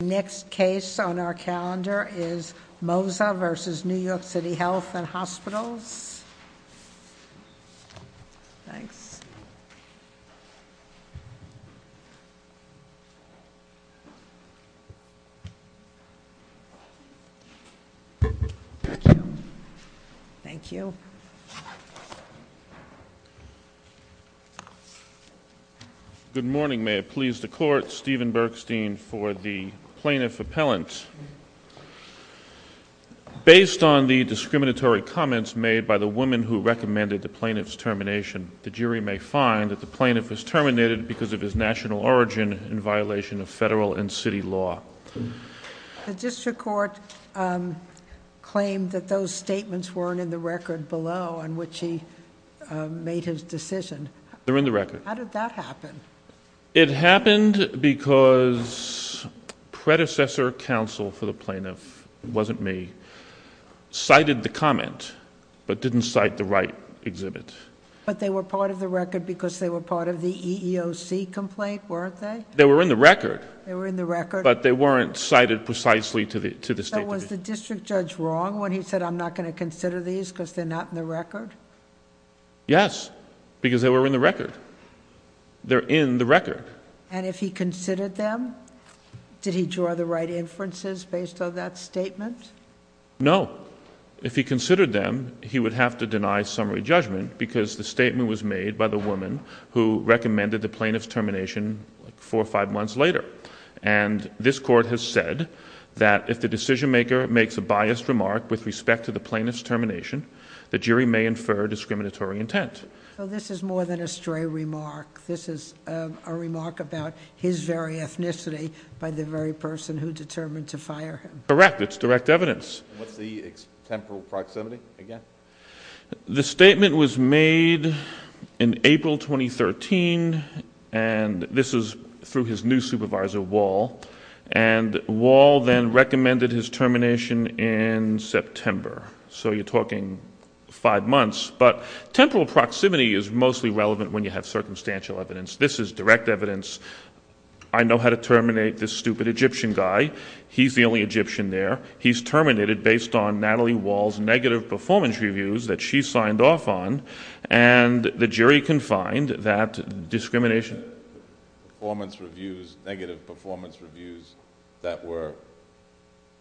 The next case on our calendar is Moza v. New York City Health and Hospitals. Thanks. Thank you. Good morning. May it please the Court, Stephen Bergstein for the Plaintiff Appellant. Based on the discriminatory comments made by the woman who recommended the plaintiff's termination, the jury may find that the plaintiff was terminated because of his national origin in violation of federal and city law. The district court claimed that those statements weren't in the record below on which he made his decision. They're in the record. How did that happen? It happened because predecessor counsel for the plaintiff, it wasn't me, cited the comment but didn't cite the right exhibit. But they were part of the record because they were part of the EEOC complaint, weren't they? They were in the record. But they weren't cited precisely to the statement. Was the district judge wrong when he said, I'm not going to consider these because they're not in the record? Yes, because they were in the record. They're in the record. And if he considered them, did he draw the right inferences based on that statement? No. If he considered them, he would have to deny summary judgment because the statement was made by the woman who recommended the plaintiff's termination four or five months later. And this court has said that if the decision maker makes a biased remark with respect to the plaintiff's termination, the jury may infer discriminatory intent. So this is more than a stray remark. This is a remark about his very ethnicity by the very person who determined to fire him. Correct. It's direct evidence. What's the temporal proximity again? The statement was made in April 2013, and this is through his new supervisor, Wall. And Wall then recommended his termination in September. So you're talking five months. But temporal proximity is mostly relevant when you have circumstantial evidence. This is direct evidence. I know how to terminate this stupid Egyptian guy. He's the only Egyptian there. He's terminated based on Natalie Wall's negative performance reviews that she signed off on, and the jury can find that discrimination. Negative performance reviews that were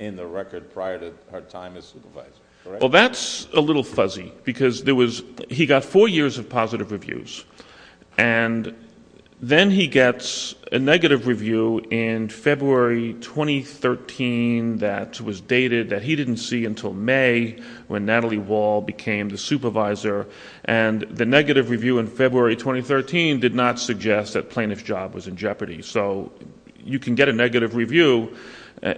in the record prior to her time as supervisor. Well, that's a little fuzzy because he got four years of positive reviews, and then he gets a negative review in February 2013 that was dated that he didn't see until May when Natalie Wall became the supervisor, and the negative review in February 2013 did not suggest that the plaintiff's job was in jeopardy. So you can get a negative review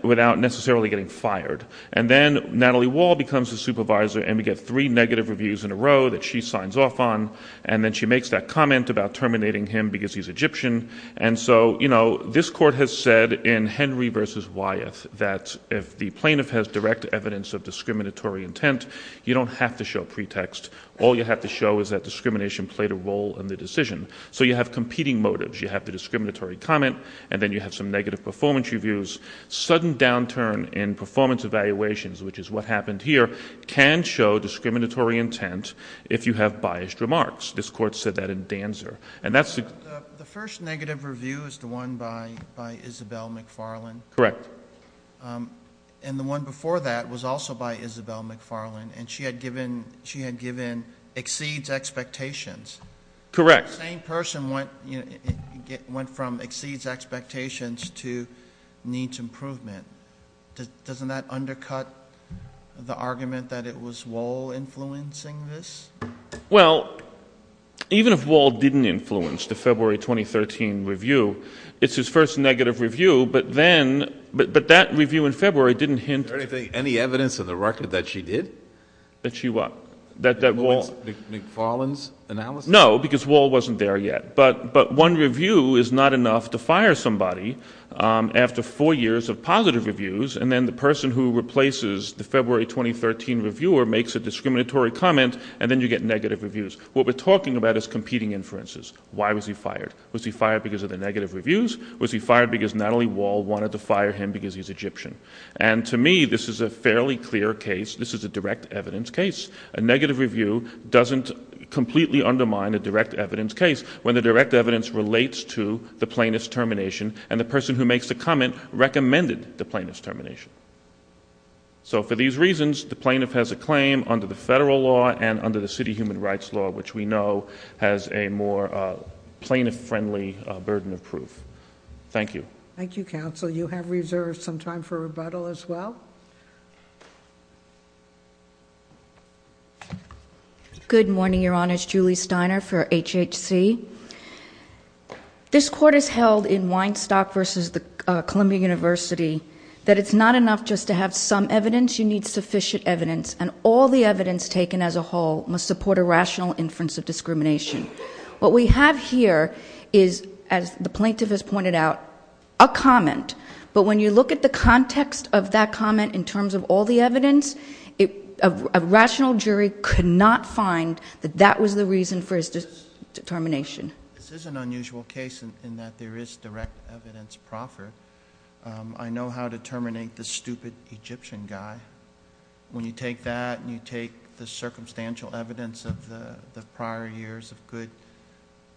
without necessarily getting fired. And then Natalie Wall becomes the supervisor, and we get three negative reviews in a row that she signs off on, and then she makes that comment about terminating him because he's Egyptian. And so this court has said in Henry v. Wyeth that if the plaintiff has direct evidence of discriminatory intent, you don't have to show pretext. All you have to show is that discrimination played a role in the decision. So you have competing motives. You have the discriminatory comment, and then you have some negative performance reviews. Sudden downturn in performance evaluations, which is what happened here, can show discriminatory intent if you have biased remarks. This court said that in Danzer. The first negative review is the one by Isabel McFarlane. Correct. And the one before that was also by Isabel McFarlane, and she had given exceeds expectations. Correct. The same person went from exceeds expectations to needs improvement. Doesn't that undercut the argument that it was Wall influencing this? Well, even if Wall didn't influence the February 2013 review, it's his first negative review, but that review in February didn't hint. Is there any evidence in the record that she did? That she what? McFarlane's analysis? No, because Wall wasn't there yet. But one review is not enough to fire somebody after four years of positive reviews, and then the person who replaces the February 2013 reviewer makes a discriminatory comment, and then you get negative reviews. What we're talking about is competing inferences. Why was he fired? Was he fired because of the negative reviews? Was he fired because not only Wall wanted to fire him because he's Egyptian? And to me, this is a fairly clear case. This is a direct evidence case. A negative review doesn't completely undermine a direct evidence case when the direct evidence relates to the plaintiff's termination, and the person who makes the comment recommended the plaintiff's termination. So for these reasons, the plaintiff has a claim under the federal law and under the city human rights law, which we know has a more plaintiff-friendly burden of proof. Thank you. Thank you, counsel. You have reserved some time for rebuttal as well. Good morning, Your Honors. Julie Steiner for HHC. This court has held in Weinstock v. Columbia University that it's not enough just to have some evidence. You need sufficient evidence, and all the evidence taken as a whole must support a rational inference of discrimination. What we have here is, as the plaintiff has pointed out, a comment. But when you look at the context of that comment in terms of all the evidence, a rational jury could not find that that was the reason for his determination. This is an unusual case in that there is direct evidence proffered. I know how to terminate this stupid Egyptian guy. When you take that and you take the circumstantial evidence of the prior years of good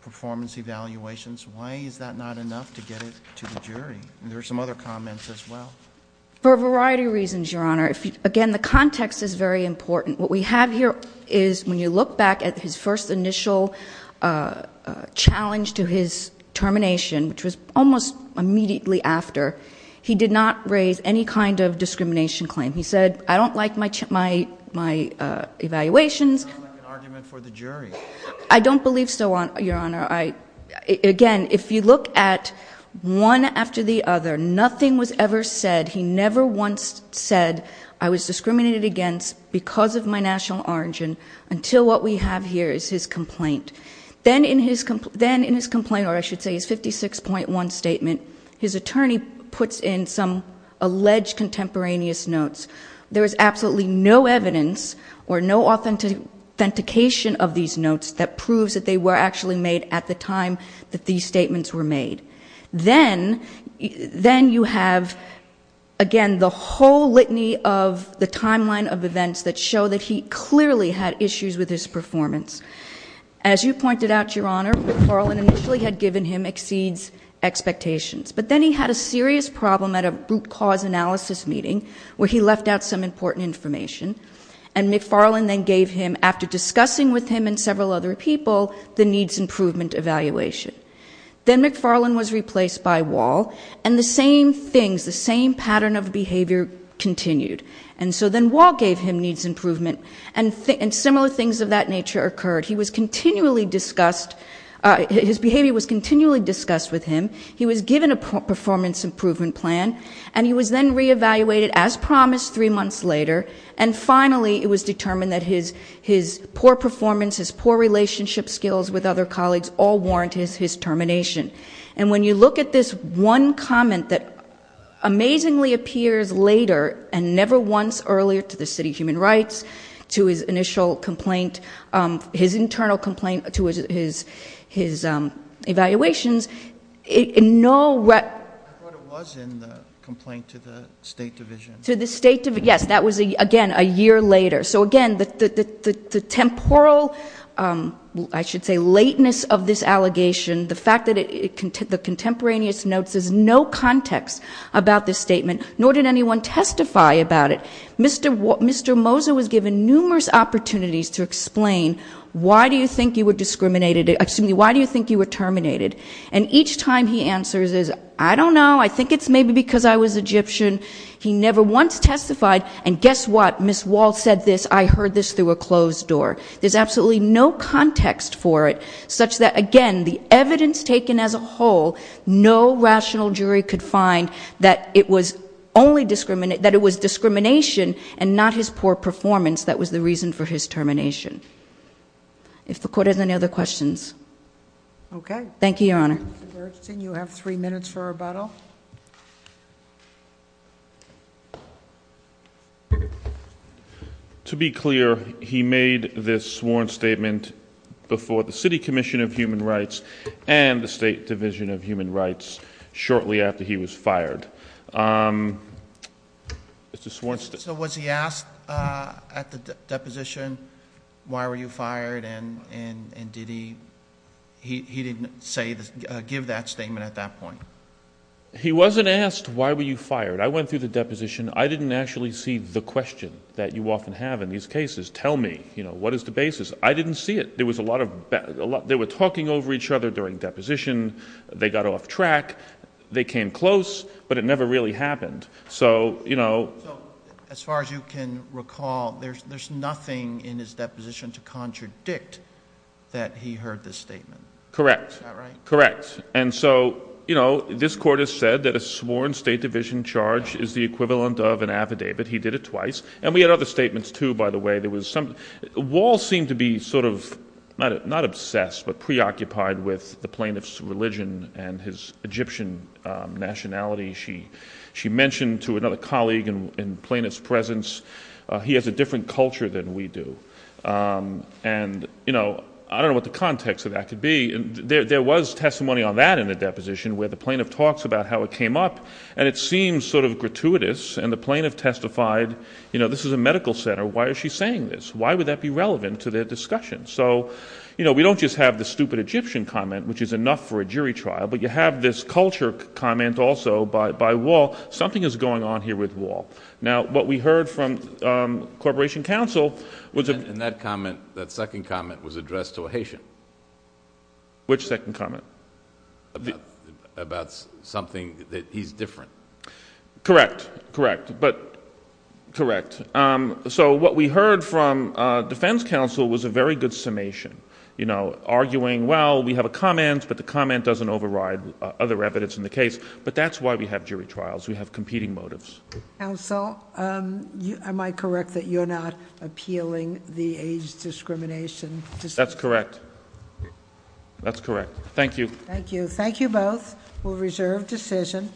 performance evaluations, why is that not enough to get it to the jury? There are some other comments as well. For a variety of reasons, Your Honor. Again, the context is very important. What we have here is, when you look back at his first initial challenge to his termination, which was almost immediately after, he did not raise any kind of discrimination claim. He said, I don't like my evaluations. I don't like an argument for the jury. I don't believe so, Your Honor. Again, if you look at one after the other, nothing was ever said. He never once said, I was discriminated against because of my national origin, until what we have here is his complaint. Then in his complaint, or I should say his 56.1 statement, his attorney puts in some alleged contemporaneous notes. There is absolutely no evidence or no authentication of these notes that proves that they were actually made at the time that these statements were made. Then you have, again, the whole litany of the timeline of events that show that he clearly had issues with his performance. As you pointed out, Your Honor, McFarlane initially had given him exceeds expectations. But then he had a serious problem at a root cause analysis meeting where he left out some important information, and McFarlane then gave him, after discussing with him and several other people, the needs improvement evaluation. Then McFarlane was replaced by Wall, and the same things, the same pattern of behavior continued. Then Wall gave him needs improvement, and similar things of that nature occurred. His behavior was continually discussed with him. He was given a performance improvement plan, and he was then reevaluated as promised three months later. Finally, it was determined that his poor performance, his poor relationship skills with other colleagues all warrant his termination. When you look at this one comment that amazingly appears later and never once earlier to the City Human Rights, to his initial complaint, his internal complaint, to his evaluations, in no way- I thought it was in the complaint to the State Division. To the State Division, yes. That was, again, a year later. So, again, the temporal, I should say, lateness of this allegation, the fact that the contemporaneous notes, there's no context about this statement, nor did anyone testify about it. Mr. Moser was given numerous opportunities to explain, why do you think you were discriminated- excuse me, why do you think you were terminated? And each time he answers is, I don't know, I think it's maybe because I was Egyptian. He never once testified, and guess what? Ms. Wall said this, I heard this through a closed door. There's absolutely no context for it, such that, again, the evidence taken as a whole, no rational jury could find that it was discrimination and not his poor performance that was the reason for his termination. If the Court has any other questions. Okay. Thank you, Your Honor. Mr. Bergsten, you have three minutes for rebuttal. To be clear, he made this sworn statement before the City Commission of Human Rights and the State Division of Human Rights shortly after he was fired. So, was he asked at the deposition, why were you fired, and did he- give that statement at that point? He wasn't asked, why were you fired? I went through the deposition. I didn't actually see the question that you often have in these cases. Tell me, you know, what is the basis? I didn't see it. There was a lot of- they were talking over each other during deposition. They got off track. They came close, but it never really happened. So, you know- So, as far as you can recall, there's nothing in his deposition to contradict that he heard this statement. Correct. Is that right? Correct. And so, you know, this court has said that a sworn State Division charge is the equivalent of an affidavit. He did it twice. And we had other statements, too, by the way. There was some- Wall seemed to be sort of, not obsessed, but preoccupied with the plaintiff's religion and his Egyptian nationality. She mentioned to another colleague in plaintiff's presence, he has a different culture than we do. And, you know, I don't know what the context of that could be. There was testimony on that in the deposition where the plaintiff talks about how it came up. And it seems sort of gratuitous. And the plaintiff testified, you know, this is a medical center. Why is she saying this? Why would that be relevant to their discussion? So, you know, we don't just have the stupid Egyptian comment, which is enough for a jury trial, but you have this culture comment also by Wall. Something is going on here with Wall. Now, what we heard from Corporation Counsel was- And that comment, that second comment, was addressed to a Haitian. Which second comment? About something that he's different. Correct. Correct. But, correct. So what we heard from defense counsel was a very good summation. You know, arguing, well, we have a comment, but the comment doesn't override other evidence in the case. But that's why we have jury trials. We have competing motives. Counsel, am I correct that you're not appealing the age discrimination? That's correct. That's correct. Thank you. Thank you. Thank you both. We'll reserve decision.